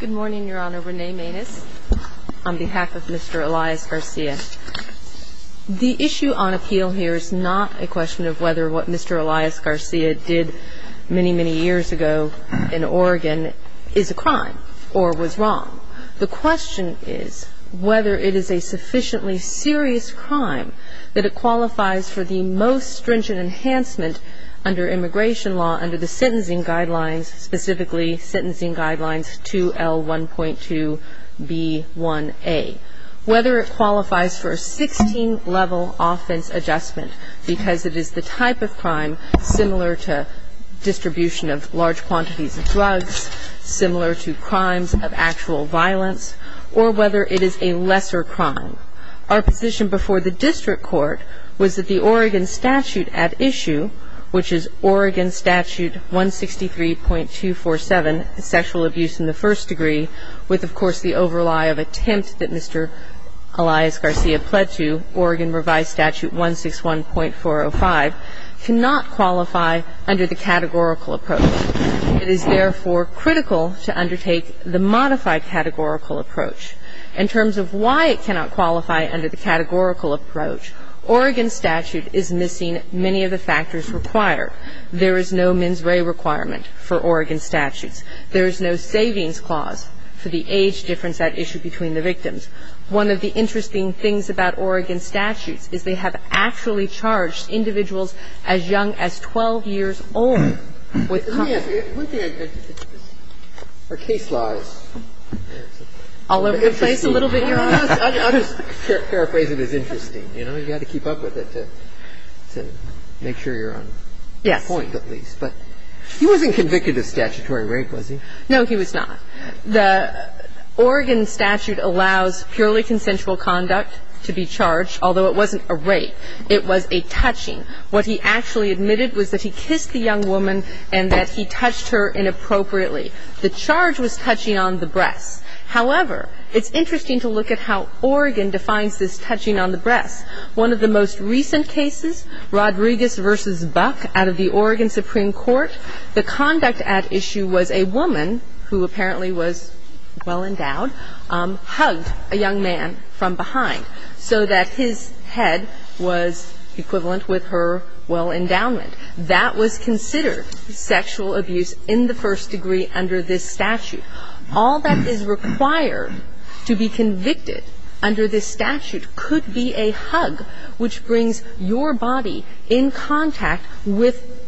Good morning, Your Honor. Renee Maines on behalf of Mr. Elias-Garcia. The issue on appeal here is not a question of whether what Mr. Elias-Garcia did many, many years ago in Oregon is a crime or was wrong. The question is whether it is a sufficiently serious crime that it qualifies for the most stringent enhancement under immigration law, under the sentencing guidelines, specifically sentencing guidelines 2L1.2B1A. Whether it qualifies for a 16-level offense adjustment because it is the type of crime similar to distribution of large quantities of drugs, similar to crimes of actual violence, or whether it is a lesser crime. Our position before the district court was that the Oregon statute at issue, which is Oregon Statute 163.247, sexual abuse in the first degree, with of course the overlie of attempt that Mr. Elias-Garcia pled to, Oregon Revised Statute 161.405, cannot qualify under the categorical approach. It is therefore critical to undertake the modified categorical approach. In terms of why it cannot qualify under the categorical approach, Oregon statute is missing many of the factors required. There is no mens rea requirement for Oregon statutes. There is no savings clause for the age difference at issue between the victims. One of the interesting things about Oregon statutes is they have actually charged individuals as young as 12 years old with copyright. One thing I didn't get to the point of the case, is that the state statute is a little One thing I didn't get to the point of the case law. The case law is an interesting one. I'll just paraphrase it as interesting. You know, you've got to keep up with it to make sure you're on point at least. But he wasn't convicted of statutory rape, was he? No, he was not. The Oregon statute allows purely consensual conduct to be charged, although it wasn't a rape. It was a touching. What he actually admitted was that he kissed the young woman and that he touched her inappropriately. The charge was touching on the breasts. However, it's interesting to look at how Oregon defines this touching on the breasts. One of the most recent cases, Rodriguez v. Buck, out of the Oregon Supreme Court, the conduct at issue was a woman who apparently was well endowed hugged a young man from behind so that his head was equivalent with her well endowment. That was considered sexual abuse in the first degree under this statute. All that is required to be convicted under this statute could be a hug which brings your body in contact with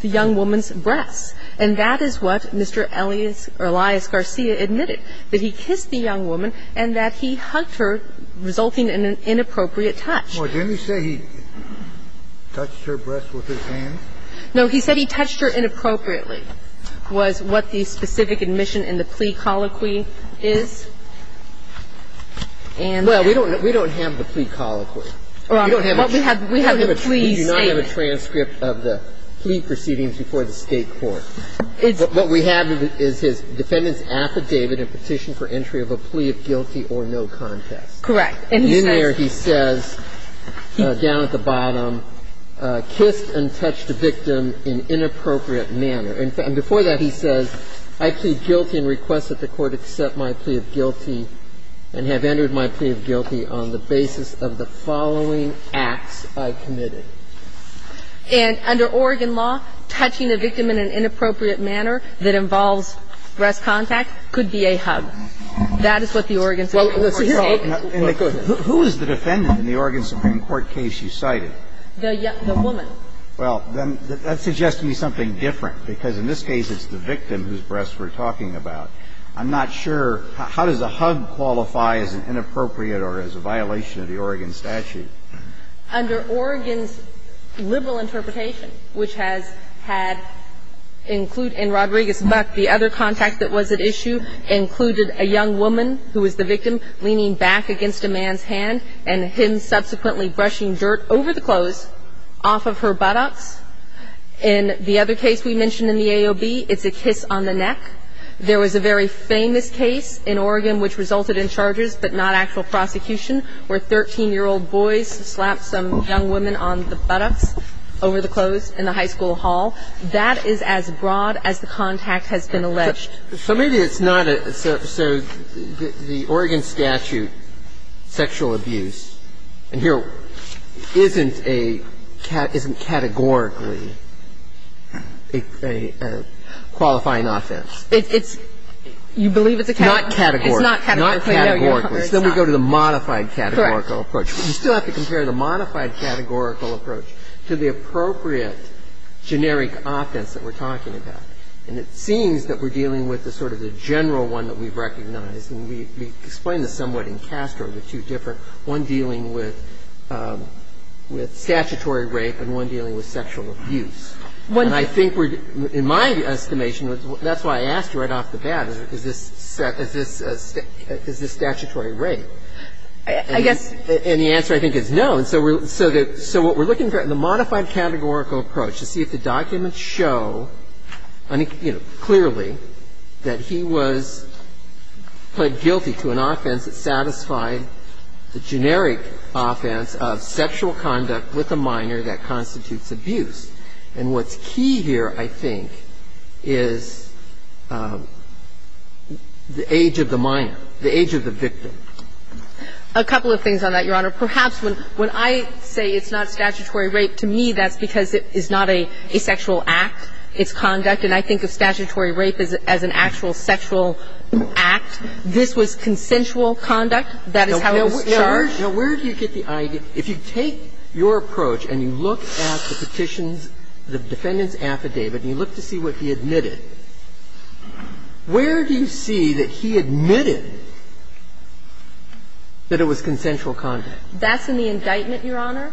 the young woman's breasts. And that is what Mr. Elias Garcia admitted, that he kissed the young woman and that he hugged her, resulting in an inappropriate touch. Well, didn't he say he touched her breasts with his hands? No. He said he touched her inappropriately, was what the specific admission in the plea colloquy is. Well, we don't have the plea colloquy. Well, we have the plea statement. We do not have a transcript of the plea proceedings before the State court. What we have is his defendant's affidavit and petition for entry of a plea of guilty or no contest. Correct. And in there he says, down at the bottom, kissed and touched the victim in inappropriate manner. And before that, he says, I plead guilty and request that the Court accept my plea of guilty and have entered my plea of guilty on the basis of the following acts I committed. And under Oregon law, touching a victim in an inappropriate manner that involves breast contact could be a hug. That is what the Oregon Supreme Court stated. Who is the defendant in the Oregon Supreme Court case you cited? The woman. Well, then that suggests to me something different, because in this case it's the victim whose breasts we're talking about. I'm not sure. How does a hug qualify as an inappropriate or as a violation of the Oregon statute? Under Oregon's liberal interpretation, which has had include in Rodriguez-Muck, the other contact that was at issue included a young woman who was the victim leaning back against a man's hand and him subsequently brushing dirt over the clothes off of her buttocks. In the other case we mentioned in the AOB, it's a kiss on the neck. There was a very famous case in Oregon which resulted in charges but not actual prosecution where 13-year-old boys slapped some young women on the buttocks over the clothes in the high school hall. That is as broad as the contact has been alleged. So maybe it's not a – so the Oregon statute, sexual abuse, and here isn't a – isn't categorically a qualifying offense. It's – you believe it's a category. It's not categorically. Not categorically. Then we go to the modified categorical approach. Correct. You still have to compare the modified categorical approach to the appropriate generic offense that we're talking about. And it seems that we're dealing with the sort of the general one that we've recognized, and we explained this somewhat in Castro, the two different, one dealing with statutory rape and one dealing with sexual abuse. And I think we're – in my estimation, that's why I asked you right off the bat, is this statutory rape? I guess – And the answer, I think, is no. So what we're looking for in the modified categorical approach is to see if the documents show, you know, clearly that he was put guilty to an offense that satisfied the generic offense of sexual conduct with a minor that constitutes abuse. And what's key here, I think, is the age of the minor, the age of the victim. A couple of things on that, Your Honor. Perhaps when I say it's not statutory rape, to me that's because it is not a sexual act. It's conduct. And I think of statutory rape as an actual sexual act. This was consensual conduct. That is how it was charged. Now, where do you get the idea? If you take your approach and you look at the petition's – the defendant's affidavit and you look to see what he admitted, where do you see that he admitted that it was consensual conduct? That's in the indictment, Your Honor.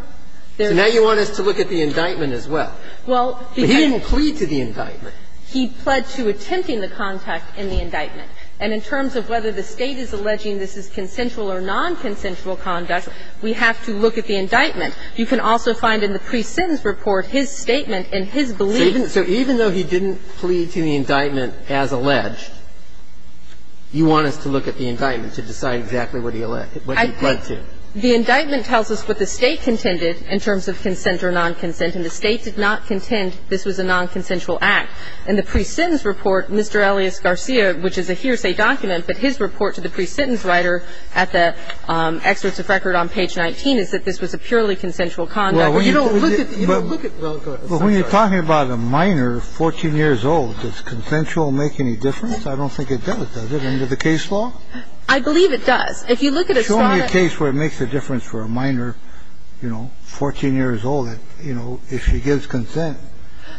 There's not – So now you want us to look at the indictment as well. Well, because – But he didn't plead to the indictment. He pled to attempting the conduct in the indictment. And in terms of whether the State is alleging this is consensual or nonconsensual conduct, we have to look at the indictment. You can also find in the pre-sentence report his statement and his belief. So even though he didn't plead to the indictment as alleged, you want us to look at the indictment to decide exactly what he alleged – what he pled to. The indictment tells us what the State contended in terms of consent or nonconsent, and the State did not contend this was a nonconsensual act. In the pre-sentence report, Mr. Elias Garcia, which is a hearsay document, but his argument is that this was a purely consensual conduct. Well, you don't look at – you don't look at – Well, when you're talking about a minor 14 years old, does consensual make any difference? I don't think it does, does it, under the case law? I believe it does. If you look at Estrada – Show me a case where it makes a difference for a minor, you know, 14 years old, you know, if she gives consent,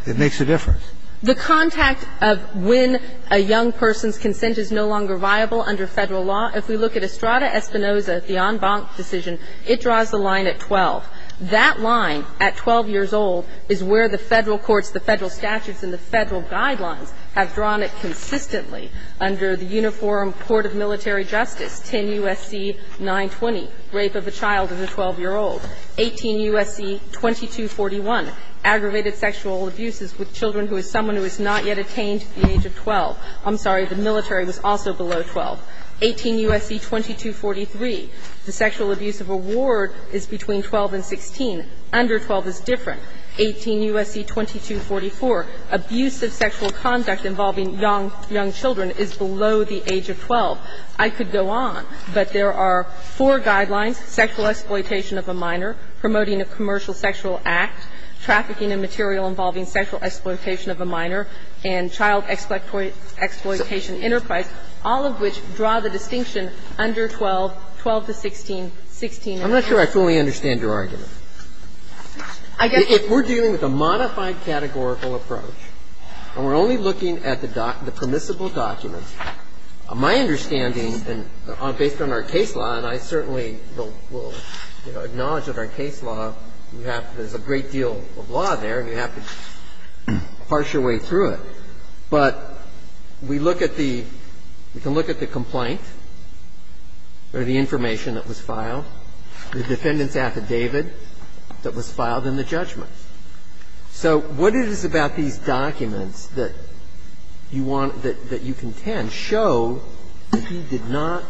it makes a difference. The contact of when a young person's consent is no longer viable under Federal law, if we look at Estrada Espinoza, the en banc decision, it draws the line at 12. That line at 12 years old is where the Federal courts, the Federal statutes and the Federal guidelines have drawn it consistently under the Uniform Court of Military Justice, 10 U.S.C. 920, rape of a child and a 12-year-old, 18 U.S.C. 2241, aggravated sexual abuses with children who is someone who has not yet attained at the age of 12. I'm sorry, the military was also below 12. 18 U.S.C. 2243, the sexual abuse of a ward is between 12 and 16. Under 12 is different. 18 U.S.C. 2244, abusive sexual conduct involving young children is below the age of 12. I could go on, but there are four guidelines, sexual exploitation of a minor, promoting a commercial sexual act, trafficking of material involving sexual exploitation of a minor, and child exploitation enterprise, all of which draw the distinction under 12, 12 to 16, 16 and 12. I'm not sure I fully understand your argument. If we're dealing with a modified categorical approach and we're only looking at the permissible documents, my understanding, based on our case law, and I certainly will acknowledge that our case law, we have to do a great deal of law there and we have to parse your way through it. But we look at the we can look at the complaint or the information that was filed, the defendant's affidavit that was filed, and the judgment. So what it is about these documents that you want that you contend show that he did not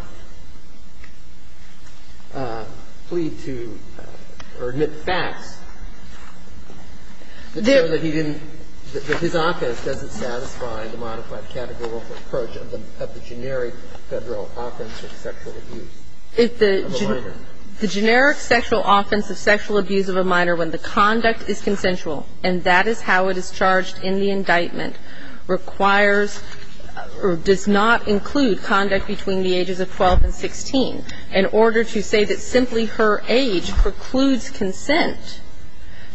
plead to or admit facts that show that he didn't, that his offense doesn't satisfy the modified categorical approach of the generic Federal offense of sexual abuse of a minor. The generic sexual offense of sexual abuse of a minor when the conduct is consensual and that is how it is charged in the indictment, requires or does not include conduct between the ages of 12 and 16. In order to say that simply her age precludes consent,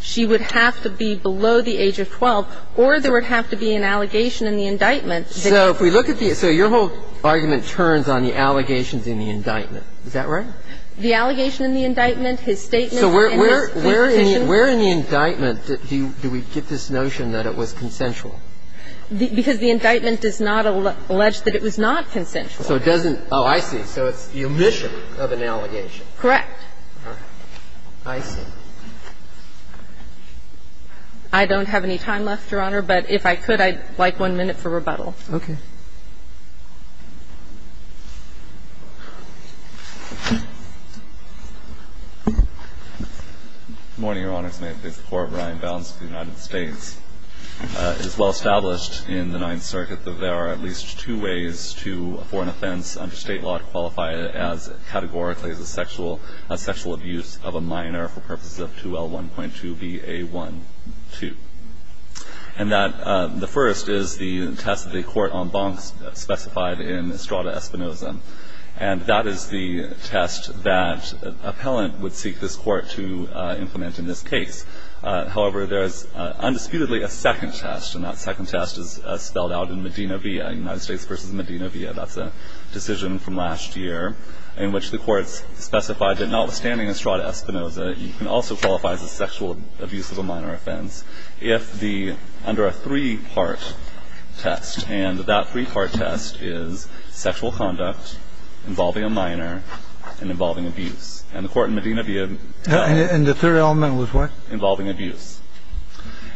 she would have to be below the age of 12, or there would have to be an allegation in the indictment. So if we look at the so your whole argument turns on the allegations in the indictment. Is that right? The allegation in the indictment, his statement and his plea petition. Where in the indictment do we get this notion that it was consensual? Because the indictment does not allege that it was not consensual. So it doesn't – oh, I see. So it's the omission of an allegation. Correct. All right. I see. I don't have any time left, Your Honor, but if I could, I'd like one minute for rebuttal. Okay. Good morning, Your Honors. May it please the Court. Brian Bounds of the United States. It is well established in the Ninth Circuit that there are at least two ways to a foreign offense under State law to qualify it as categorically as a sexual abuse of a minor for purposes of 2L1.2BA12. And that the first is the test of the court on bonks specified in Estrada Espinoza. And that is the test that an appellant would seek this court to implement in this case. However, there is undisputedly a second test, and that second test is spelled out in Medina v. United States v. Medina v. That's a decision from last year in which the courts specified that notwithstanding Estrada Espinoza, you can also qualify as a sexual abuse of a minor offense if the under a three-part test. And that three-part test is sexual conduct involving a minor and involving abuse. And the court in Medina v. And the third element was what? Involving abuse.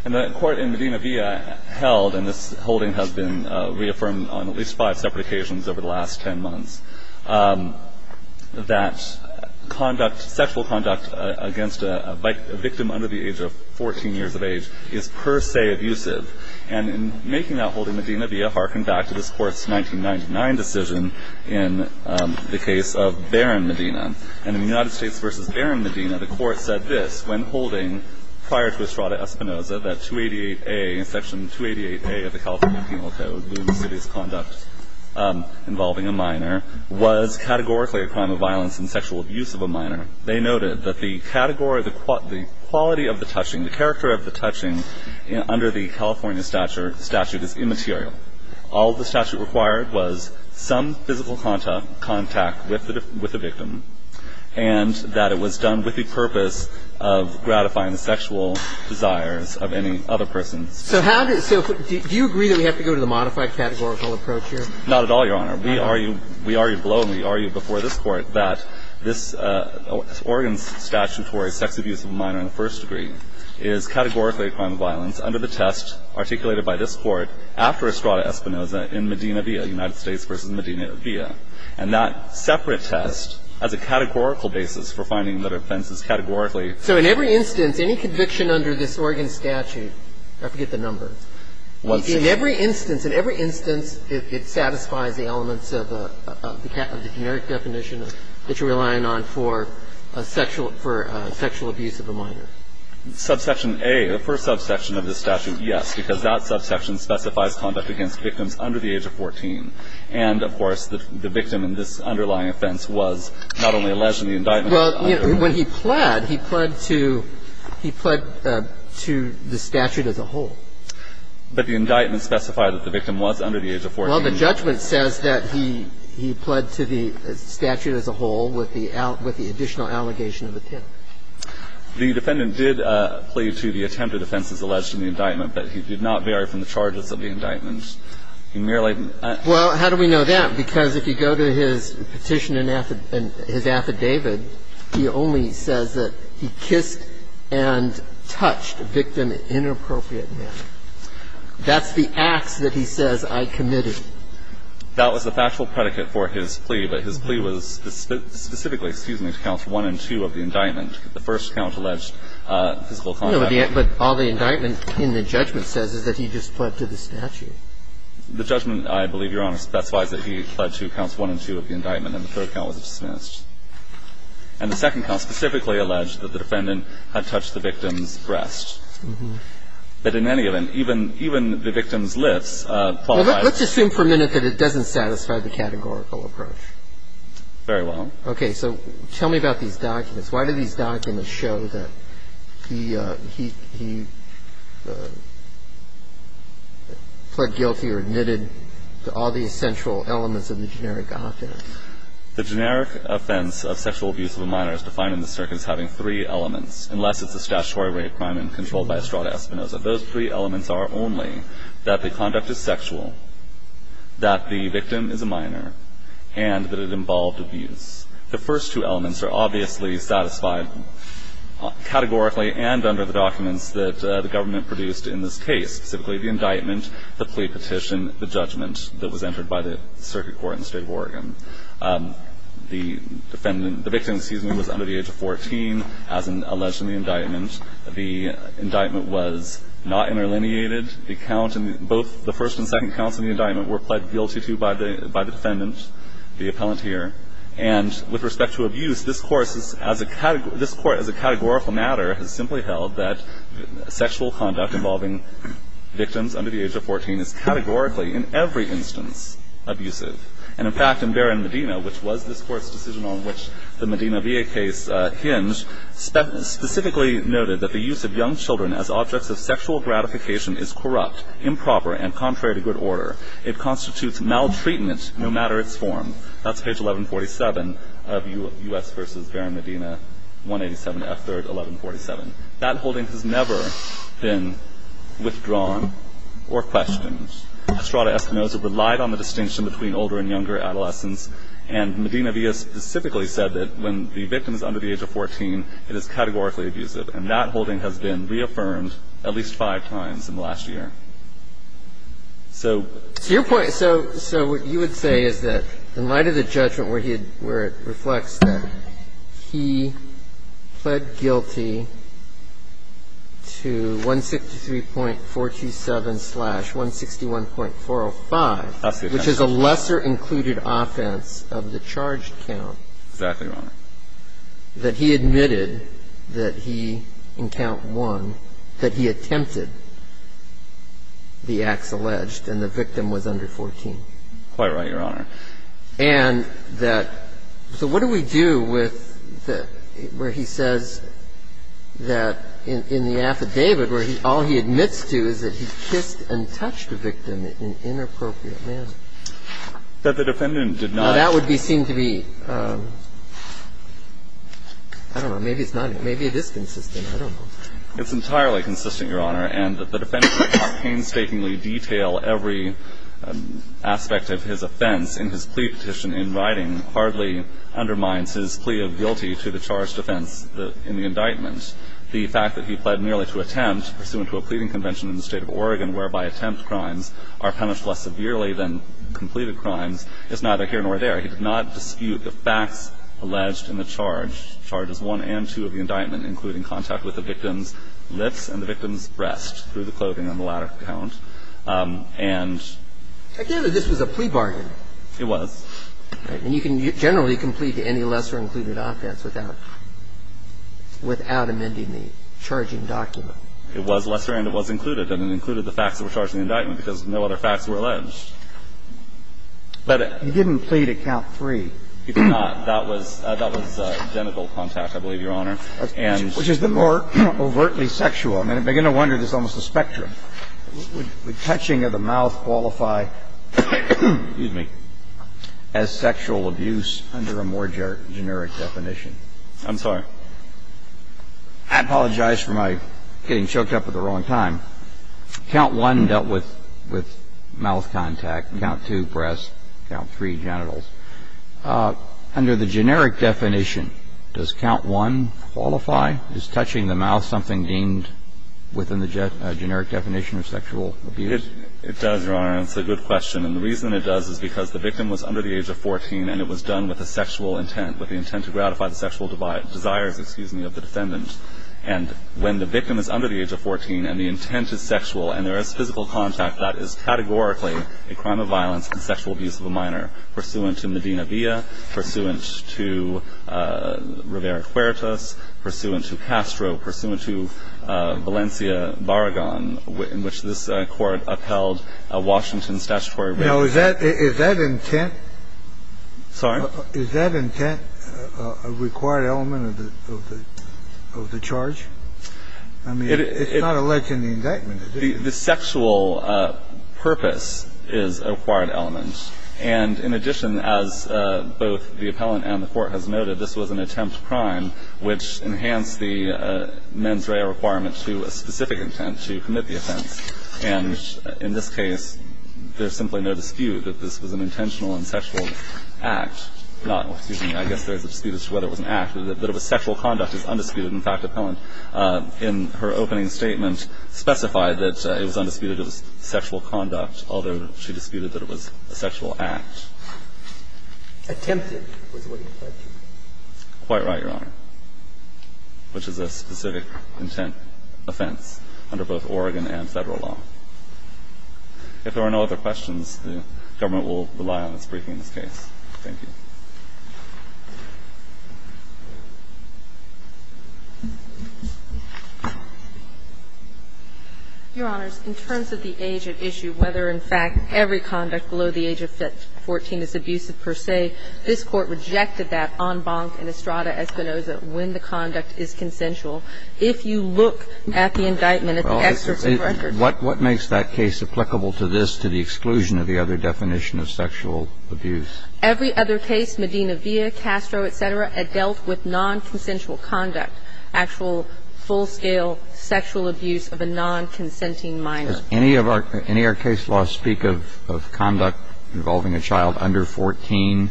And the court in Medina v. held, and this holding has been reaffirmed on at least five separate occasions over the last ten months, that conduct, sexual conduct against a victim under the age of 14 years of age is per se abusive. And in making that holding, Medina v. harkened back to this Court's 1999 decision in the case of Barron Medina. And in United States v. Barron Medina, the court said this, when holding prior to Estrada Espinoza that Section 288A of the California Penal Code, the insidious conduct involving a minor, was categorically a crime of violence and sexual abuse of a minor. They noted that the quality of the touching, the character of the touching under the California statute is immaterial. All the statute required was some physical contact with the victim and that it was done with the purpose of gratifying the sexual desires of any other person. So how did so do you agree that we have to go to the modified categorical approach here? Not at all, Your Honor. We argue below and we argue before this Court that this Oregon statutory sex abuse of a minor in the first degree is categorically a crime of violence under the test articulated by this Court after Estrada Espinoza in Medina v. United States v. Medina v. California. And that separate test has a categorical basis for finding that offenses categorically So in every instance, any conviction under this Oregon statute, I forget the number. In every instance, in every instance, it satisfies the elements of the generic definition that you're relying on for sexual abuse of a minor. Subsection A, the first subsection of the statute, yes, because that subsection specifies conduct against victims under the age of 14. And, of course, the victim in this underlying offense was not only alleged in the indictment. Well, when he pled, he pled to the statute as a whole. But the indictment specified that the victim was under the age of 14. Well, the judgment says that he pled to the statute as a whole with the additional allegation of attempt. The defendant did plead to the attempted offenses alleged in the indictment, but he did not vary from the charges of the indictment. He merely Well, how do we know that? Because if you go to his petition and his affidavit, he only says that he kissed and touched the victim in an inappropriate manner. That's the ax that he says I committed. That was the factual predicate for his plea, but his plea was specifically, excuse me, to counts one and two of the indictment, the first count alleged physical contact. No, but all the indictment in the judgment says is that he just pled to the statute. The judgment, I believe, Your Honor, specifies that he pled to counts one and two of the indictment, and the third count was dismissed. And the second count specifically alleged that the defendant had touched the victim's breast. But in any event, even the victim's lips qualify as Well, let's assume for a minute that it doesn't satisfy the categorical approach. Very well. Okay. So tell me about these documents. Why do these documents show that he pled guilty or admitted to all the essential elements of the generic offense? The generic offense of sexual abuse of a minor is defined in the circuit as having three elements, unless it's a statutory rape, crime, and control by Estrada Espinoza. Those three elements are only that the conduct is sexual, that the victim is a minor, and that it involved abuse. The first two elements are obviously satisfied categorically and under the documents that the government produced in this case, specifically the indictment, the plea petition, the judgment that was entered by the circuit court in the State of Oregon. The defendant the victim, excuse me, was under the age of 14, as alleged in the indictment. The indictment was not interlineated. The count in both the first and second counts in the indictment were pled guilty to by the defendant, the appellant here. And with respect to abuse, this Court as a categorical matter has simply held that sexual conduct involving victims under the age of 14 is categorically, in every instance, abusive. And, in fact, in Barron Medina, which was this Court's decision on which the Medina VA case hinged, specifically noted that the use of young children as objects of sexual gratification is corrupt, improper, and contrary to good order. It constitutes maltreatment no matter its form. That's page 1147 of U.S. v. Barron Medina, 187 F. 3rd, 1147. That holding has never been withdrawn or questioned. Estrada Espinosa relied on the distinction between older and younger adolescents, and Medina VA specifically said that when the victim is under the age of 14, it is categorically abusive. And that holding has been reaffirmed at least five times in the last year. So to your point, so what you would say is that, in light of the judgment where it reflects that he pled guilty to 163.427-161.405, which is a lesser-included offense of the charged count, that he admitted that he, in count one, that he attempted to commit the acts alleged, and the victim was under 14? Quite right, Your Honor. And that so what do we do with where he says that in the affidavit where all he admits to is that he kissed and touched the victim in an inappropriate manner? That the defendant did not. Now, that would be seen to be, I don't know. Maybe it's not. Maybe it is consistent. I don't know. It's entirely consistent, Your Honor. And that the defendant did not painstakingly detail every aspect of his offense in his plea petition in writing hardly undermines his plea of guilty to the charged offense in the indictment. The fact that he pled merely to attempt, pursuant to a pleading convention in the State of Oregon, whereby attempt crimes are punished less severely than completed crimes, is neither here nor there. He did not dispute the facts alleged in the charge. He did not strike charges one and two of the indictment, including contact with the victim's lips and the victim's breast through the clothing on the ladder count. And... Apparently this was a plea bargain. It was. All right. And you can generally complete any lesser included offense without amending the charging document. It was lesser and it was included, and it included the facts that were charged in the indictment because no other facts were alleged. But it... He didn't plead at count three. He did not. That was genital contact, I believe, Your Honor. And... Which is the more overtly sexual. I mean, it would be no wonder there's almost a spectrum. Would touching of the mouth qualify as sexual abuse under a more generic definition? I'm sorry? I apologize for my getting choked up at the wrong time. Count one dealt with mouth contact. Count two, breast. Count three, genitals. Under the generic definition, does count one qualify as touching the mouth, something deemed within the generic definition of sexual abuse? It does, Your Honor, and it's a good question. And the reason it does is because the victim was under the age of 14, and it was done with a sexual intent, with the intent to gratify the sexual desire of the defendant. And when the victim is under the age of 14 and the intent is sexual and there is physical contact, that is categorically a crime of violence and sexual abuse of a minor pursuant to Medina Villa, pursuant to Rivera-Cuertas, pursuant to Castro, pursuant to Valencia Barragan, in which this Court upheld Washington's statutory... Now, is that intent... Sorry? Is that intent a required element of the charge? I mean, it's not alleged in the indictment, is it? The sexual purpose is a required element. And in addition, as both the appellant and the Court has noted, this was an attempt crime which enhanced the mens rea requirement to a specific intent, to commit the offense. And in this case, there's simply no dispute that this was an intentional and sexual act. Not, excuse me, I guess there's a dispute as to whether it was an act, that it was sexual conduct is undisputed. In fact, appellant, in her opening statement, specified that it was undisputed it was sexual conduct, although she disputed that it was a sexual act. Attempted was what he said. Quite right, Your Honor, which is a specific intent offense under both Oregon and Federal law. If there are no other questions, the government will rely on its briefing in this case. Thank you. Your Honors, in terms of the age at issue, whether, in fact, every conduct below the age of 14 is abusive per se, this Court rejected that en banc in Estrada Espinoza when the conduct is consensual. If you look at the indictment at the excerpt of the record... What makes that case applicable to this, to the exclusion of the other definition of sexual abuse? Every other case, Medina v. Castro, et cetera, had dealt with nonconsensual conduct, actual full-scale sexual abuse of a nonconsenting minor. Does any of our case laws speak of conduct involving a child under 14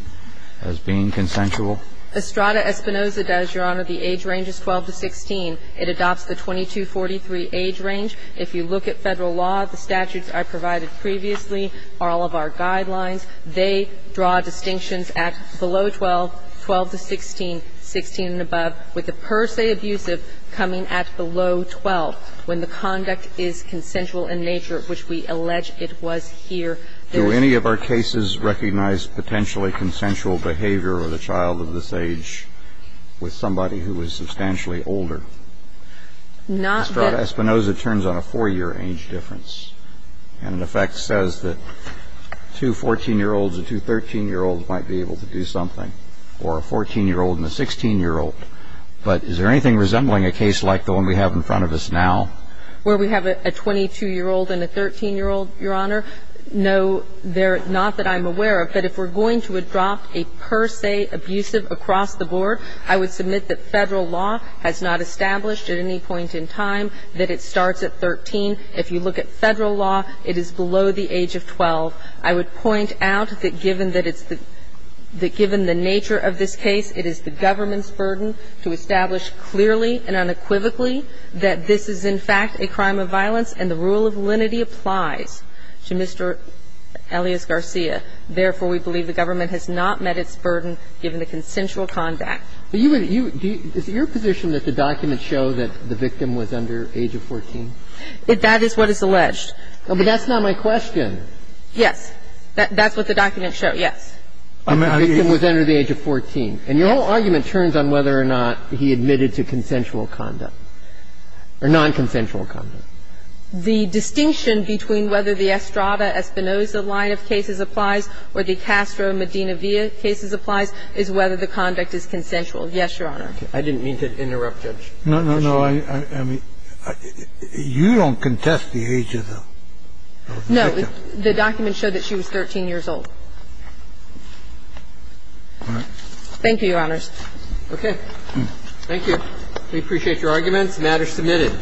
as being consensual? Estrada Espinoza does, Your Honor. The age range is 12 to 16. It adopts the 22-43 age range. If you look at Federal law, the statutes I provided previously, all of our guidelines, they draw distinctions at below 12, 12 to 16, 16 and above, with the per se abusive coming at below 12 when the conduct is consensual in nature, which we allege it was here. Do any of our cases recognize potentially consensual behavior of a child of this age with somebody who is substantially older? Not that... Estrada Espinoza turns on a four-year age difference and, in effect, says that two 14-year-olds and two 13-year-olds might be able to do something, or a 14-year-old and a 16-year-old. But is there anything resembling a case like the one we have in front of us now? Where we have a 22-year-old and a 13-year-old, Your Honor, no, they're not that I'm aware of. But if we're going to adopt a per se abusive across the board, I would submit that it is the government's burden to establish at any point in time that it starts at 13. If you look at Federal law, it is below the age of 12. I would point out that given that it's the – that given the nature of this case, it is the government's burden to establish clearly and unequivocally that this is, in fact, a crime of violence, and the rule of lenity applies to Mr. Elias Garcia. Therefore, we believe the government has not met its burden given the consensual conduct. But you would – do you – is it your position that the documents show that the victim was under age of 14? That is what is alleged. But that's not my question. Yes. That's what the documents show, yes. The victim was under the age of 14. Yes. And your whole argument turns on whether or not he admitted to consensual conduct or nonconsensual conduct. The distinction between whether the Estrada-Espinoza line of cases applies or the Castro-Medina-Villa cases applies is whether the conduct is consensual. Yes, Your Honor. I didn't mean to interrupt, Judge. No, no, no. I mean, you don't contest the age of the victim. No. The documents show that she was 13 years old. All right. Thank you, Your Honors. Okay. Thank you. We appreciate your arguments. The matter is submitted.